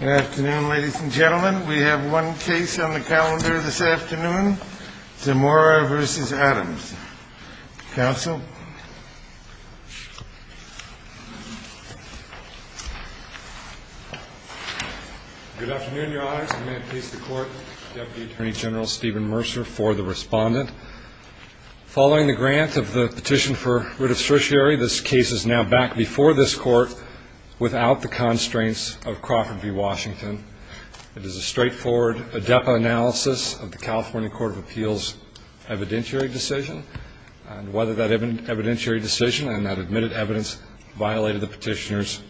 Good afternoon, ladies and gentlemen. We have one case on the calendar this afternoon, Zamora v. Adams. Counsel? Good afternoon, Your Honor. May it please the Court, Deputy Attorney General Stephen Mercer for the respondent. Following the grant of the petition for writ of certiorari, this case is now back before this Court without the constraints of Crawford v. Washington. It is a straightforward ADEPA analysis of the California Court of Appeals' evidentiary decision and whether that evidentiary decision and that admitted evidence violated the petitioner's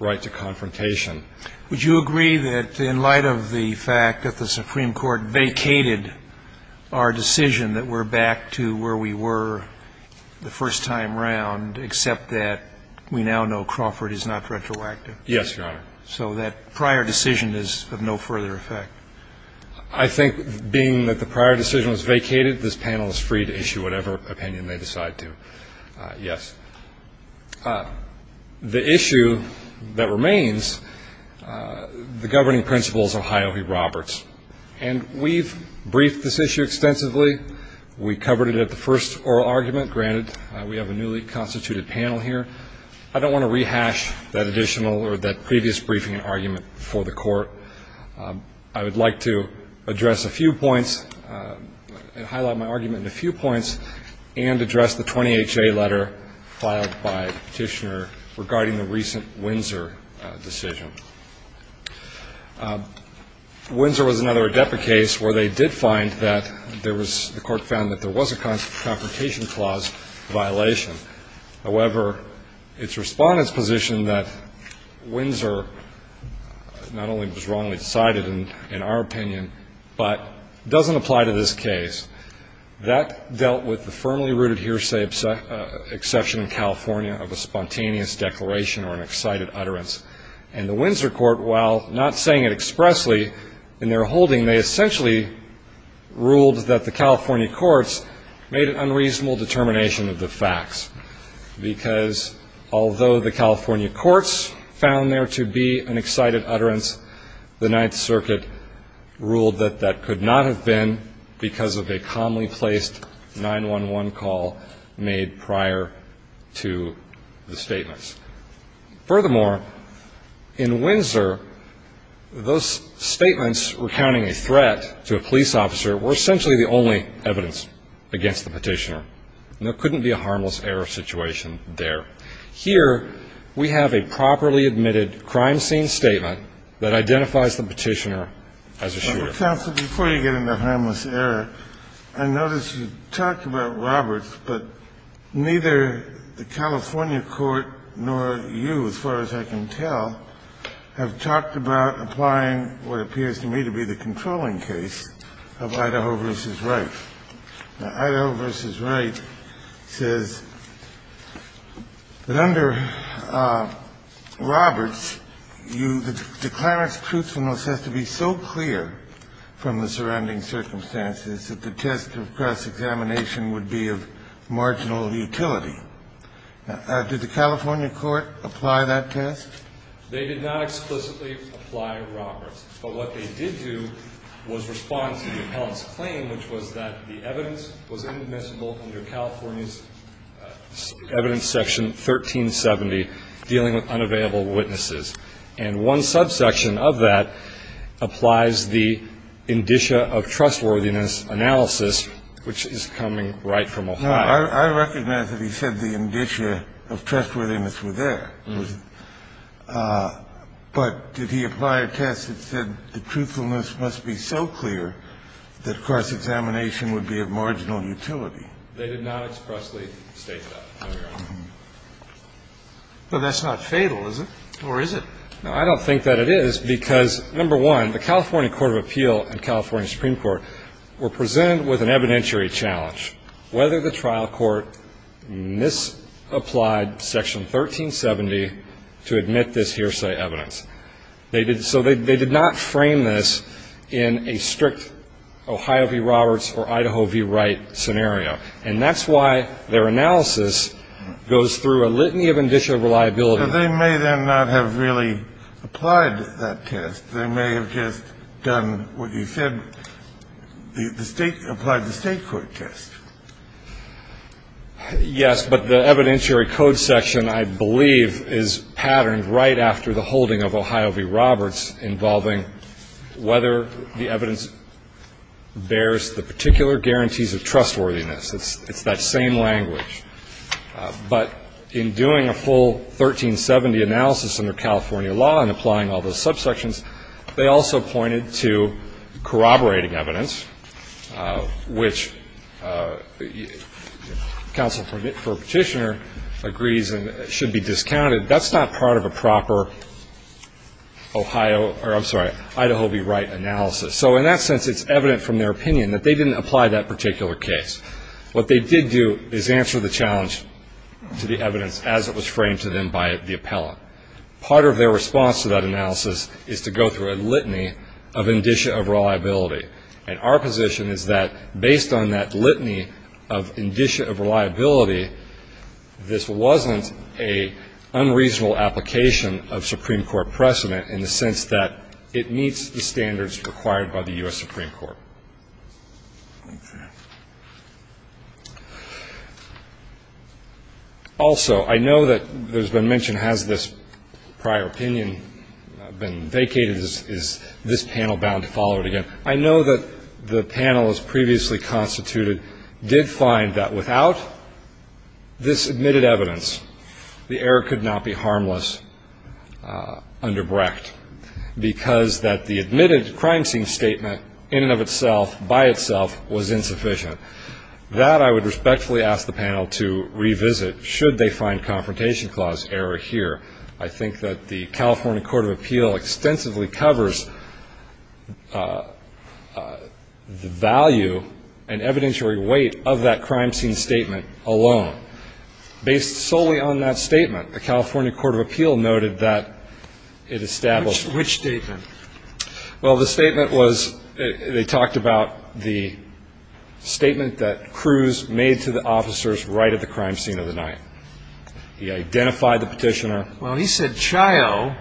right to confrontation. Would you agree that in light of the fact that the Supreme Court vacated our decision that we're back to where we were the first time around, except that we now know Crawford is not retroactive? Yes, Your Honor. So that prior decision is of no further effect? I think, being that the prior decision was vacated, this panel is free to issue whatever opinion they decide to. Yes. The issue that remains, the governing principles of Ohio v. Roberts. And we've briefed this issue extensively. We covered it at the first oral argument. Granted, we have a newly constituted panel here. I don't want to rehash that additional or that previous briefing argument before the Court. I would like to address a few points and highlight my argument in a few points and address the 20HA letter filed by the petitioner regarding the recent Windsor decision. Windsor was another ADEPA case where they did find that there was, the Court found that there was a confrontation clause violation. However, its Respondent's position that Windsor not only was wrongly decided in our opinion, but doesn't apply to this case, that dealt with the firmly rooted hearsay exception in California of a spontaneous declaration or an excited utterance. And the Windsor Court, while not saying it expressly in their holding, they essentially ruled that the California courts made an unreasonable determination of the facts. Because although the California courts found there to be an 911 call made prior to the statements. Furthermore, in Windsor, those statements recounting a threat to a police officer were essentially the only evidence against the petitioner. There couldn't be a harmless error situation there. Here, we have a properly admitted crime scene statement that identifies the petitioner as a shooter. But counsel, before you get into harmless error, I noticed you talked about Roberts, but neither the California court nor you, as far as I can tell, have talked about applying what appears to me to be the controlling case of Idaho v. Wright. Now, Idaho v. Wright says that under Roberts, the declarant's truthfulness has to be so clear that the test of cross-examination would be of marginal utility. Now, did the California court apply that test? They did not explicitly apply Roberts. But what they did do was respond to the appellant's claim, which was that the evidence was inadmissible under California's evidence section 1370, dealing with unavailable witnesses. And one subsection of that applies the California court's claim that the defendant So the claim that the defendant was not guilty of any crime is not in the inditia of trustworthiness analysis, which is coming right from Ohio. Kennedy, I recognize that he said the inditia of trustworthiness was there. But did he apply a test that said the truthfulness must be so clear that cross-examination would be of marginal utility? They did not expressly state that on their own. But that's not fatal, is it? Or is it? No, I don't think that it is, because, number one, the California Court of Appeal and California Supreme Court were presented with an evidentiary challenge, whether the trial court misapplied section 1370 to admit this hearsay evidence. They did not frame this in a strict Ohio v. Roberts or Idaho v. Wright scenario. And that's why their analysis goes through a litany of inditia of reliability. So they may then not have really applied that test. They may have just done what you said, the State – applied the State court test. Yes, but the evidentiary code section, I believe, is patterned right after the holding of Ohio v. Roberts involving whether the evidence bears the particular guarantees of trustworthiness. It's that same language. But in doing a full 1370 analysis under California law and applying all those subsections, they also pointed to corroborating evidence, which counsel for a petitioner agrees should be discounted. That's not part of a proper Ohio – or, I'm sorry, Idaho v. Wright analysis. So in that sense, it's evident from their opinion that they didn't apply that particular case. What they did do is answer the challenge to the evidence as it was framed to them by the appellant. Part of their response to that analysis is to go through a litany of inditia of reliability. And our position is that based on that litany of inditia of reliability, this wasn't an unreasonable application of Supreme Court precedent in the sense that it meets the standards required by the U.S. Supreme Court. Also, I know that there's been mention, has this prior opinion been vacated? Is this panel bound to follow it again? I know that the panelists previously constituted did find that without this crime scene statement in and of itself, by itself, was insufficient. That I would respectfully ask the panel to revisit should they find confrontation clause error here. I think that the California Court of Appeal extensively covers the value and evidentiary weight of that crime scene statement alone. Based solely on that statement, the California Court of Appeal noted that it established The statement was, they talked about the statement that Cruz made to the officers right at the crime scene of the night. He identified the petitioner. Well, he said, child,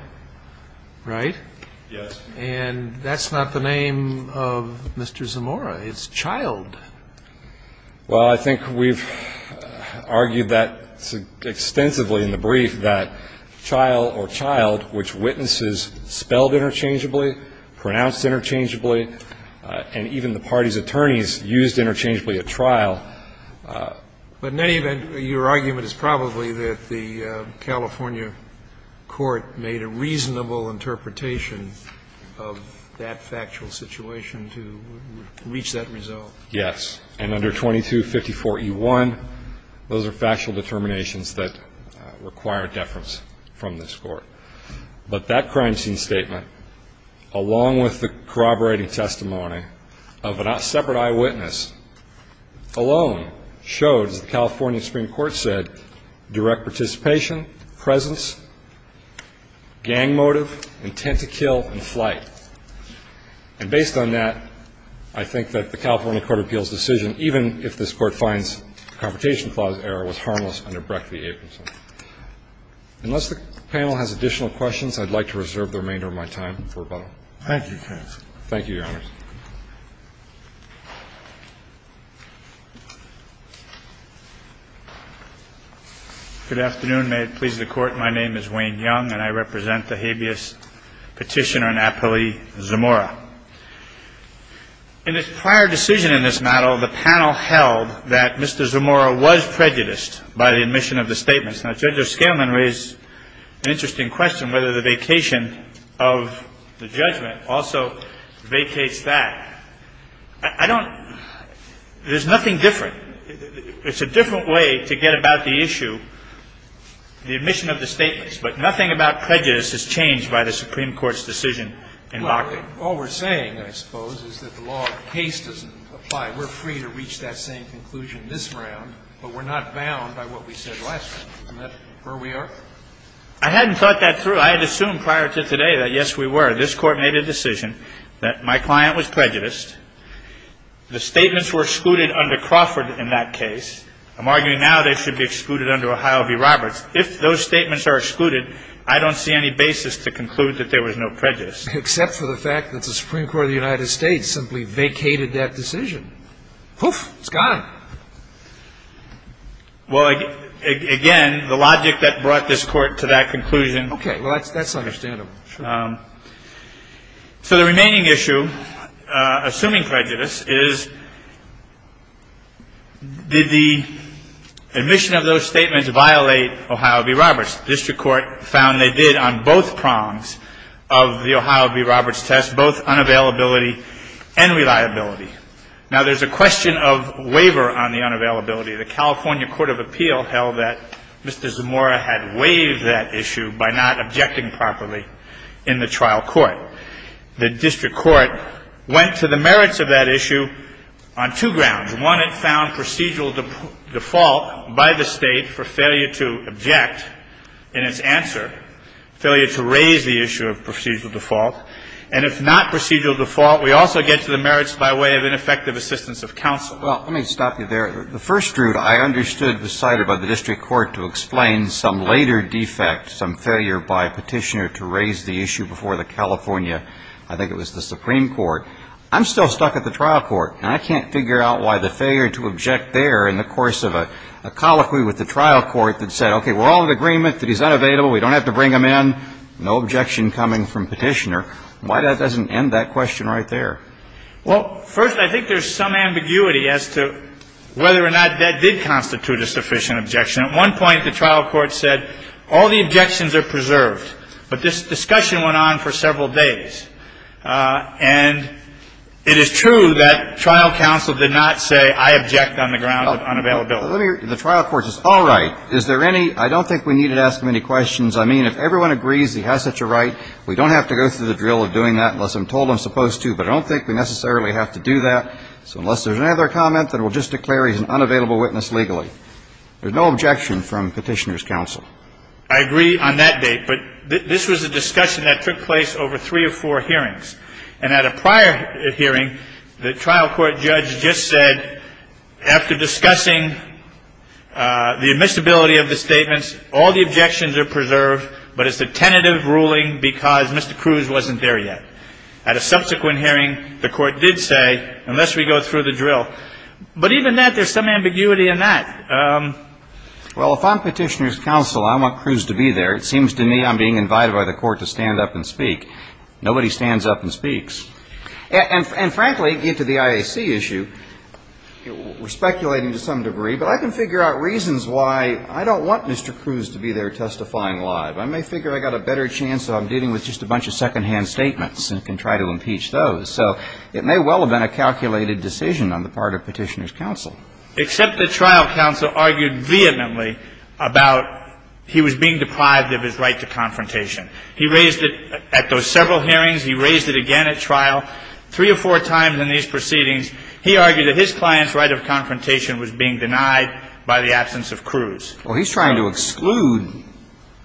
right? Yes. And that's not the name of Mr. Zamora. It's child. Well, I think we've argued that extensively in the brief that child or child, which witnesses spelled interchangeably, pronounced interchangeably, and even the party's attorneys used interchangeably at trial. But in any event, your argument is probably that the California court made a reasonable interpretation of that factual situation to reach that result. Yes. And under 2254E1, those are factual determinations that require deference from this Court. But that crime scene statement, along with the corroborating testimony of a separate eyewitness, alone showed, as the California Supreme Court said, direct participation, presence, gang motive, intent to kill, and flight. And based on that, I think that the California Court of Appeal's decision, even if this Court finds the Confrontation Clause error was harmless under Brecht v. Abramson. Thank you. Unless the panel has additional questions, I'd like to reserve the remainder of my time for about a minute. Thank you, counsel. Thank you, Your Honors. Good afternoon. May it please the Court. My name is Wayne Young, and I represent the habeas petitioner, Napoli Zamora. In his prior decision in this matter, the panel held that Mr. Zamora was prejudiced by the admission of the statements. Now, Judge O'Scalin raised an interesting question, whether the vacation of the judgment also vacates that. I don't – there's nothing different. It's a different way to get about the issue, the admission of the statements. But nothing about prejudice has changed by the Supreme Court's decision in Bakken. Well, all we're saying, I suppose, is that the law of the case doesn't apply. We're free to reach that same conclusion this round, but we're not bound by what we said last time. Isn't that where we are? I hadn't thought that through. I had assumed prior to today that, yes, we were. This Court made a decision that my client was prejudiced. The statements were excluded under Crawford in that case. I'm arguing now they should be excluded under Ohio v. Roberts. If those statements are excluded, I don't see any basis to conclude that there was no prejudice. Except for the fact that the Supreme Court of the United States simply vacated that decision. Poof. It's gone. Well, again, the logic that brought this Court to that conclusion. Okay. Well, that's understandable. Sure. So the remaining issue, assuming prejudice, is did the admission of those statements violate Ohio v. Roberts? The district court found they did on both prongs of the Ohio v. Roberts test, both unavailability and reliability. Now, there's a question of waiver on the unavailability. The California Court of Appeal held that Mr. Zamora had waived that issue by not objecting properly in the trial court. The district court went to the merits of that issue on two grounds. One, it found procedural default by the State for failure to object in its answer, failure to raise the issue of procedural default. And if not procedural default, we also get to the merits by way of ineffective assistance of counsel. Well, let me stop you there. The first route I understood was cited by the district court to explain some later defect, some failure by Petitioner to raise the issue before the California, I think it was the Supreme Court. I'm still stuck at the trial court, and I can't figure out why the failure to object there in the course of a colloquy with the trial court that said, okay, we're all in agreement that he's unavailable, we don't have to bring him in, no objection coming from Petitioner. Why that doesn't end that question right there? Well, first, I think there's some ambiguity as to whether or not that did constitute a sufficient objection. At one point, the trial court said all the objections are preserved. But this discussion went on for several days. And it is true that trial counsel did not say, I object on the ground of unavailability. The trial court says, all right, is there any, I don't think we need to ask him any questions. I mean, if everyone agrees he has such a right, we don't have to go through the drill of doing that unless I'm told I'm supposed to, but I don't think we necessarily have to do that. So unless there's another comment, then we'll just declare he's an unavailable witness legally. There's no objection from Petitioner's counsel. I agree on that date. But this was a discussion that took place over three or four hearings. And at a prior hearing, the trial court judge just said, after discussing the admissibility of the statements, all the objections are preserved, but it's a tentative ruling because Mr. Cruz wasn't there yet. At a subsequent hearing, the court did say, unless we go through the drill. But even that, there's some ambiguity in that. Well, if I'm Petitioner's counsel, I want Cruz to be there. It seems to me I'm being invited by the court to stand up and speak. Nobody stands up and speaks. And frankly, get to the IAC issue, we're speculating to some degree, but I can figure out reasons why I don't want Mr. Cruz to be there testifying live. I may figure I've got a better chance if I'm dealing with just a bunch of secondhand statements and can try to impeach those. So it may well have been a calculated decision on the part of Petitioner's counsel. Except the trial counsel argued vehemently about he was being deprived of his right to confrontation. He raised it at those several hearings. He raised it again at trial three or four times in these proceedings. He argued that his client's right of confrontation was being denied by the absence of Cruz. Well, he's trying to exclude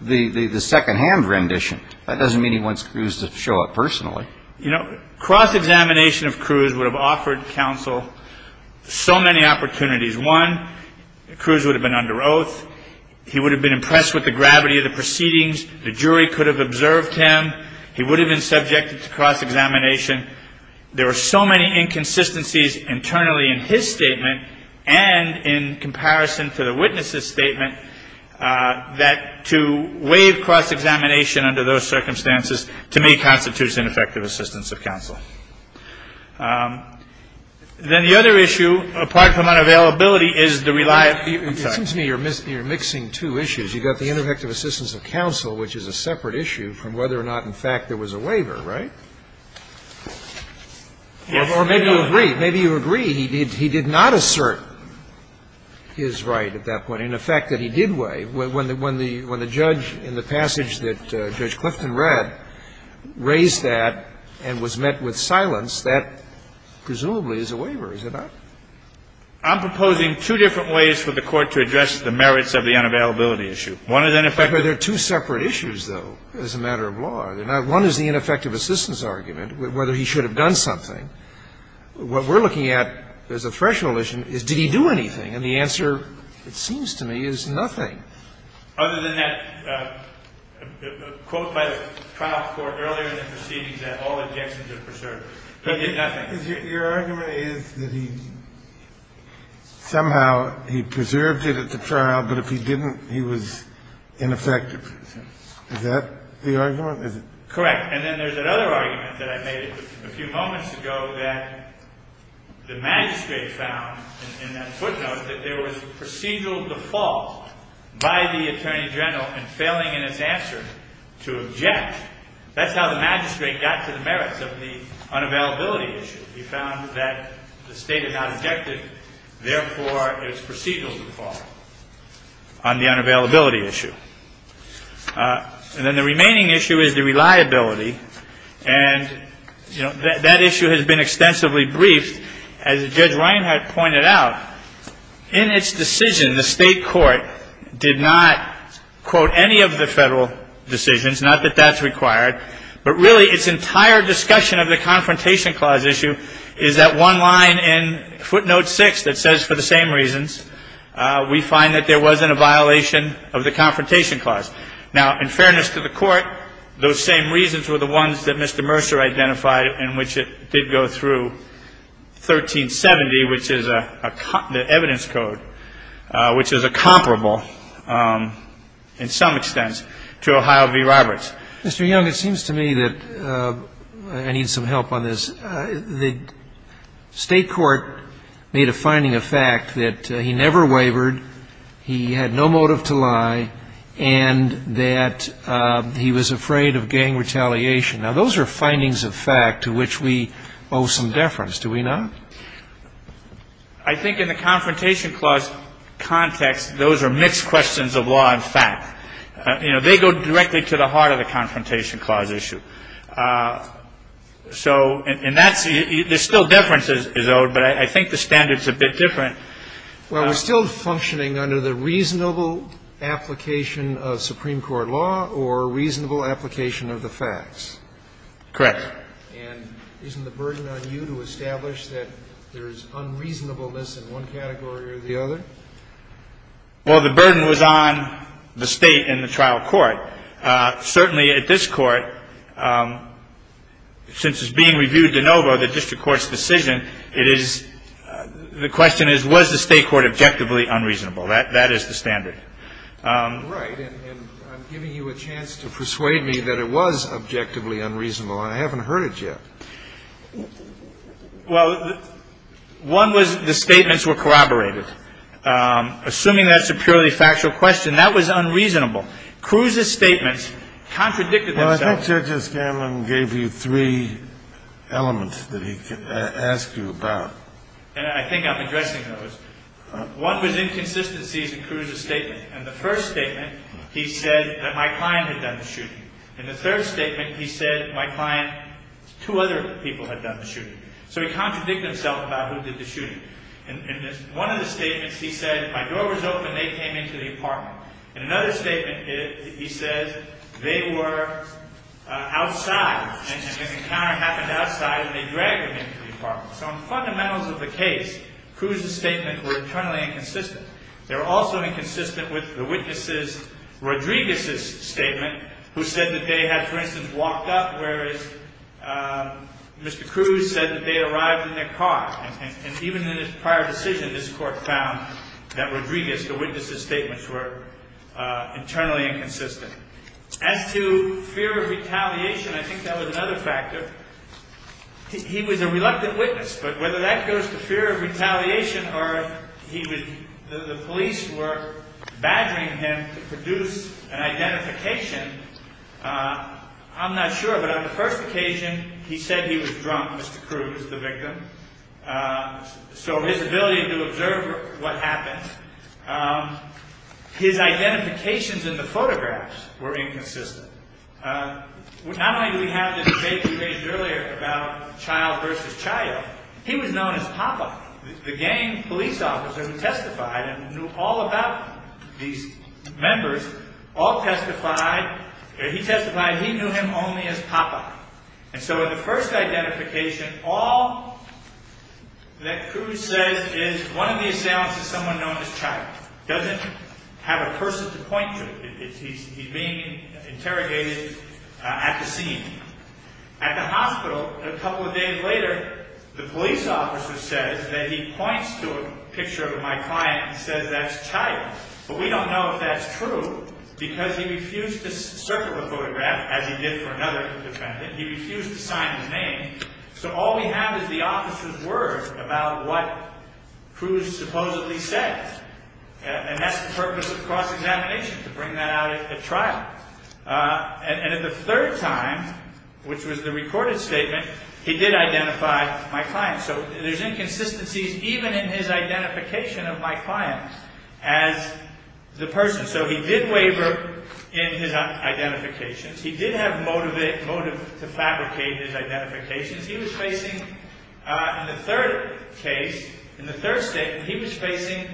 the secondhand rendition. That doesn't mean he wants Cruz to show up personally. You know, cross-examination of Cruz would have offered counsel so many opportunities. One, Cruz would have been under oath. He would have been impressed with the gravity of the proceedings. The jury could have observed him. He would have been subjected to cross-examination. There were so many inconsistencies internally in his statement and in comparison to the witness's statement that to waive cross-examination under those circumstances, to me, constitutes ineffective assistance of counsel. Then the other issue, apart from unavailability, is the reliable effect. Scalia. It seems to me you're mixing two issues. You've got the ineffective assistance of counsel, which is a separate issue from whether or not, in fact, there was a waiver, right? Or maybe you agree. Maybe you agree he did not assert his right at that point. I mean, the fact that he did waive, when the judge in the passage that Judge Clifton read raised that and was met with silence, that presumably is a waiver, is it not? I'm proposing two different ways for the Court to address the merits of the unavailability issue. One is ineffective assistance. But they're two separate issues, though, as a matter of law. One is the ineffective assistance argument, whether he should have done something. What we're looking at as a threshold issue is did he do anything. And the answer, it seems to me, is nothing, other than that quote by the trial court earlier in the proceedings that all objections are preserved. Nothing. Kennedy. Your argument is that he somehow, he preserved it at the trial, but if he didn't, he was ineffective. Is that the argument? Is it? Correct. And then there's another argument that I made a few moments ago that the magistrate found in that footnote that there was a procedural default by the attorney general in failing in his answer to object. That's how the magistrate got to the merits of the unavailability issue. He found that the state had not objected, therefore, it was procedural default on the unavailability issue. And then the remaining issue is the reliability. And, you know, that issue has been extensively briefed. As Judge Reinhart pointed out, in its decision, the state court did not quote any of the Federal decisions, not that that's required, but really its entire discussion of the Confrontation Clause issue is that one line in footnote 6 that says for the same reasons we find that there wasn't a violation of the Confrontation Clause. Now, in fairness to the Court, those same reasons were the ones that Mr. Mercer identified in which it did go through 1370, which is the evidence code, which is a comparable in some extent to Ohio v. Roberts. Mr. Young, it seems to me that I need some help on this. The state court made a finding of fact that he never wavered, he had no motive to lie, and that he was afraid of gang retaliation. Now, those are findings of fact to which we owe some deference. Do we not? I think in the Confrontation Clause context, those are mixed questions of law and fact. You know, they go directly to the heart of the Confrontation Clause issue. So and that's the ‑‑ there's still deference is owed, but I think the standard's a bit different. Well, we're still functioning under the reasonable application of Supreme Court law or reasonable application of the facts. Correct. And isn't the burden on you to establish that there's unreasonableness in one category or the other? Well, the burden was on the State in the trial court. Certainly at this Court, since it's being reviewed de novo, the district court's decision, it is ‑‑ the question is, was the State court objectively unreasonable? That is the standard. Right. And I'm giving you a chance to persuade me that it was objectively unreasonable, and I haven't heard it yet. Well, one was the statements were corroborated. Assuming that's a purely factual question, that was unreasonable. Cruz's statements contradicted themselves. Well, I think Judge O'Scanlan gave you three elements that he asked you about. And I think I'm addressing those. One was inconsistencies in Cruz's statement. In the first statement, he said that my client had done the shooting. In the third statement, he said my client, two other people had done the shooting. So he contradicted himself about who did the shooting. In one of the statements, he said, my door was open, they came into the apartment. In another statement, he says, they were outside, and an encounter happened outside, and they dragged him into the apartment. So on the fundamentals of the case, Cruz's statements were internally inconsistent. They were also inconsistent with the witness's, Rodriguez's statement, who said that they had, for instance, walked up, whereas Mr. Cruz said that they arrived in their car. And even in his prior decision, this court found that Rodriguez, the witness's statements were internally inconsistent. As to fear of retaliation, I think that was another factor. He was a reluctant witness, but whether that goes to fear of retaliation or the police were badgering him to produce an identification, I'm not sure. But on the first occasion, he said he was drunk, Mr. Cruz, the victim. So his ability to observe what happened, his identifications in the photographs were inconsistent. Not only do we have the debate we raised earlier about child versus child, he was known as Papa. The gang police officer who testified and knew all about these members, all testified, he testified he knew him only as Papa. And so in the first identification, all that Cruz says is one of the assailants is someone known as Child. He doesn't have a person to point to. He's being interrogated at the scene. At the hospital, a couple of days later, the police officer says that he points to a picture of my client and says that's Child, but we don't know if that's true because he refused to circle the photograph as he did for another defendant. He refused to sign his name. So all we have is the officer's word about what Cruz supposedly said. And that's the purpose of cross-examination, to bring that out at trial. And at the third time, which was the recorded statement, he did identify my client. So there's inconsistencies even in his identification of my client as the person. So he did waver in his identifications. He did have motive to fabricate his identifications. He was facing, in the third case, in the third statement, he was facing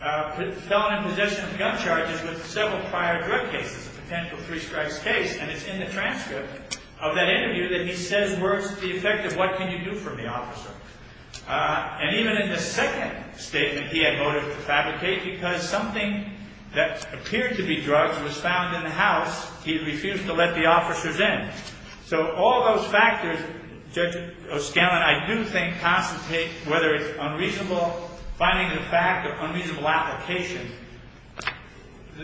felon in possession of gun charges with several prior drug cases, a potential three strikes case. And it's in the transcript of that interview that he says words to the effect of what can you do from the officer. And even in the second statement, he had motive to fabricate because something that appeared to be drugs was found in the house. He refused to let the officers in. So all those factors, Judge O'Scanlan, I do think, whether it's finding the fact of unreasonable application,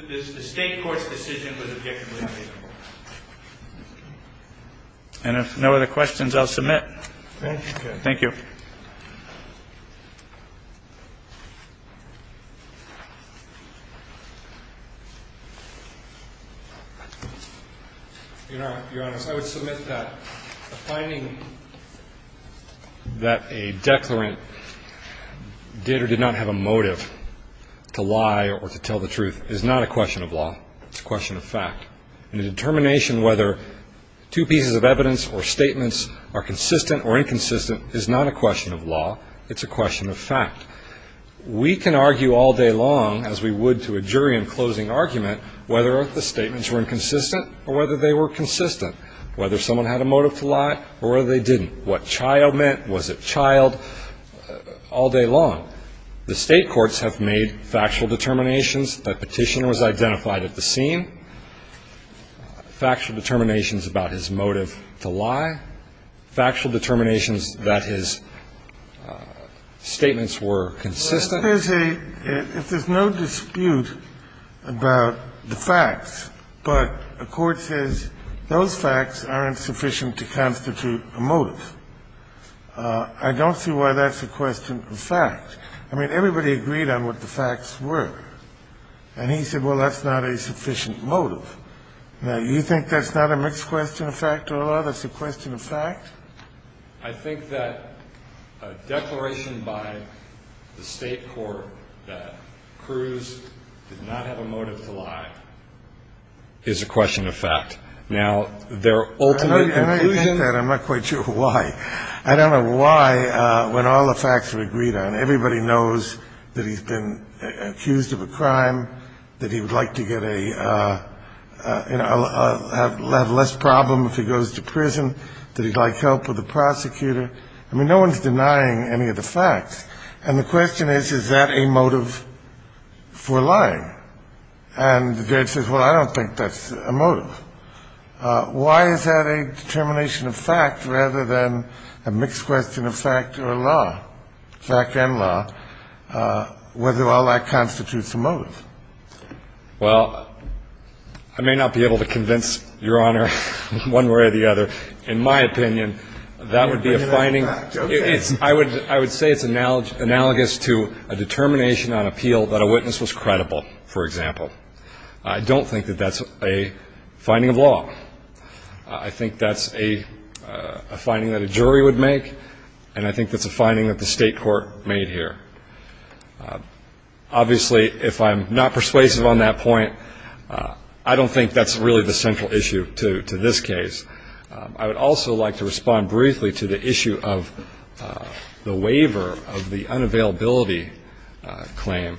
the state court's decision was objectively unreasonable. And if no other questions, I'll submit. Thank you. Thank you. Your Honor, I would submit that the finding that a declarant did or did not have a motive to lie or to tell the truth is not a question of law. It's a question of fact. And the determination whether two pieces of evidence or statements are consistent or inconsistent is not a question of law. It's a question of fact. We can argue all day long, as we would to a jury in closing argument, whether or not the statements were inconsistent or whether they were consistent, whether someone had a motive to lie or whether they didn't, what child meant, was it child, all day long. So the state courts have made factual determinations that Petitioner was identified at the scene, factual determinations about his motive to lie, factual determinations that his statements were consistent. There's a – if there's no dispute about the facts, but a court says those facts aren't sufficient to constitute a motive, I don't see why that's a question of fact. I mean, everybody agreed on what the facts were. And he said, well, that's not a sufficient motive. Now, you think that's not a mixed question of fact or law? That's a question of fact? I think that a declaration by the state court that Cruz did not have a motive to lie is a question of fact. Now, their ultimate conclusion – I know you think that. I'm not quite sure why. I don't know why, when all the facts are agreed on, everybody knows that he's been accused of a crime, that he would like to get a – have less problem if he goes to prison, that he'd like help with the prosecutor. I mean, no one's denying any of the facts. And the question is, is that a motive for lying? And the judge says, well, I don't think that's a motive. Why is that a determination of fact rather than a mixed question of fact or law, fact and law, whether all that constitutes a motive? Well, I may not be able to convince Your Honor one way or the other. In my opinion, that would be a finding. I would say it's analogous to a determination on appeal that a witness was credible, for example. I don't think that that's a finding of law. I think that's a finding that a jury would make, and I think that's a finding that the state court made here. Obviously, if I'm not persuasive on that point, I don't think that's really the central issue to this case. I would also like to respond briefly to the issue of the waiver of the unavailability claim.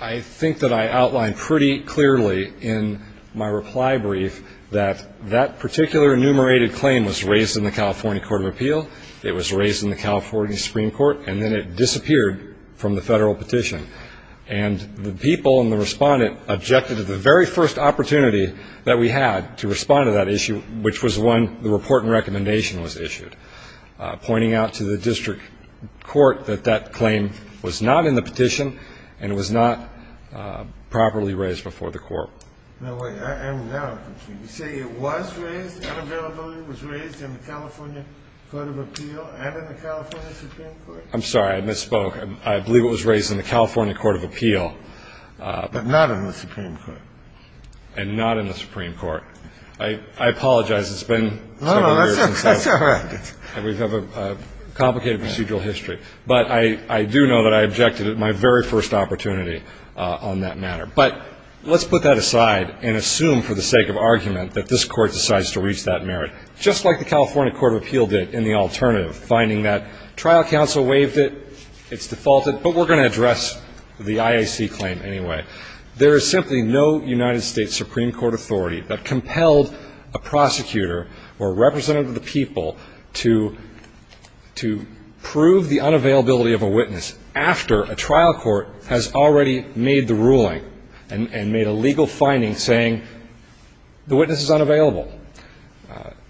I think that I outlined pretty clearly in my reply brief that that particular enumerated claim was raised in the California Court of Appeal, it was raised in the California Supreme Court, and then it disappeared from the federal petition. And the people and the respondent objected to the very first opportunity that we had to respond to that issue, which was when the report and recommendation was issued, pointing out to the district court that that claim was not in the petition and it was not properly raised before the court. Now, wait, I am now confused. You say it was raised, the unavailability was raised in the California Court of Appeal and in the California Supreme Court? I'm sorry, I misspoke. I believe it was raised in the California Court of Appeal. But not in the Supreme Court. And not in the Supreme Court. I apologize. It's been several years. That's all right. And we have a complicated procedural history. But I do know that I objected at my very first opportunity on that matter. But let's put that aside and assume for the sake of argument that this Court decides to reach that merit, just like the California Court of Appeal did in the alternative, finding that trial counsel waived it, it's defaulted, but we're going to address the IAC claim anyway. There is simply no United States Supreme Court authority that compelled a prosecutor or representative of the people to prove the unavailability of a witness after a trial court has already made the ruling and made a legal finding saying the witness is unavailable.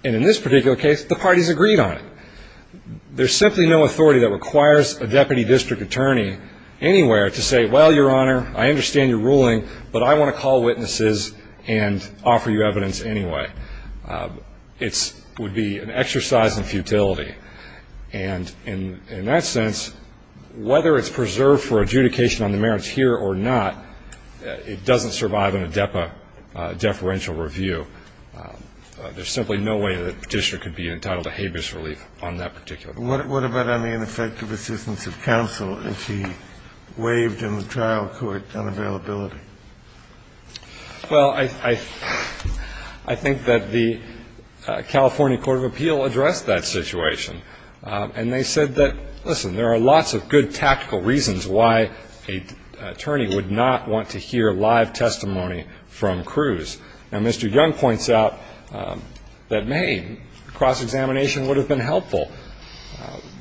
And in this particular case, the parties agreed on it. There's simply no authority that requires a deputy district attorney anywhere to say, well, Your Honor, I understand your ruling, but I want to call witnesses and offer you evidence anyway. It would be an exercise in futility. And in that sense, whether it's preserved for adjudication on the merits here or not, it doesn't survive in a DEPA deferential review. There's simply no way that a petitioner could be entitled to habeas relief on that particular. Kennedy, what about on the ineffective assistance of counsel if he waived in the trial court unavailability? Well, I think that the California Court of Appeal addressed that situation. And they said that, listen, there are lots of good tactical reasons why an attorney would not want to hear live testimony from Cruz. Now, Mr. Young points out that, hey, cross-examination would have been helpful.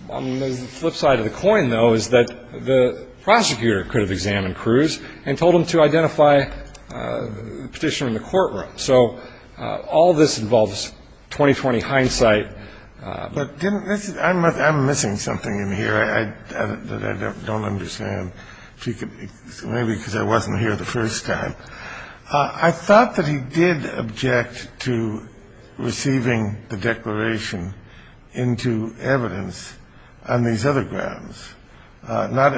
On the flip side of the coin, though, is that the prosecutor could have examined Cruz and told him to identify the petitioner in the courtroom. So all this involves 20-20 hindsight. But didn't this – I'm missing something in here that I don't understand. Maybe because I wasn't here the first time. I thought that he did object to receiving the declaration into evidence on these other grounds, not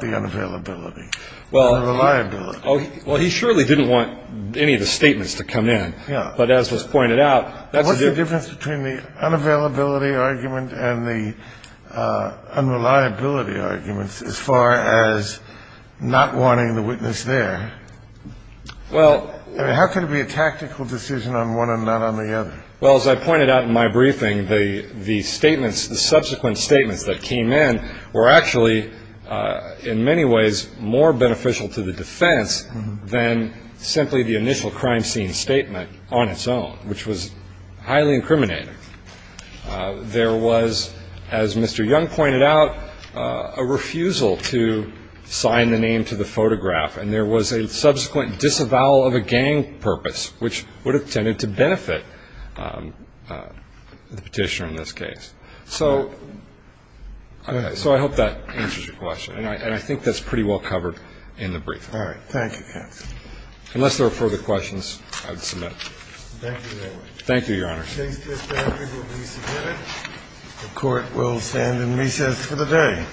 the unavailability, the unreliability. Well, he surely didn't want any of the statements to come in. Yeah. But as was pointed out, that's a difference. What's the difference between the unavailability argument and the unreliability argument as far as not wanting the witness there? Well – I mean, how can it be a tactical decision on one and not on the other? Well, as I pointed out in my briefing, the statements, the subsequent statements that came in were actually in many ways more beneficial to the defense than simply the initial crime scene statement on its own, which was highly incriminating. There was, as Mr. Young pointed out, a refusal to sign the name to the photograph, and there was a subsequent disavowal of a gang purpose, which would have tended to benefit the Petitioner in this case. So I hope that answers your question. And I think that's pretty well covered in the briefing. All right. Thank you, counsel. Unless there are further questions, I would submit. Thank you very much. Thank you, Your Honor. Case disbanded will be submitted. The Court will stand in recess for the day.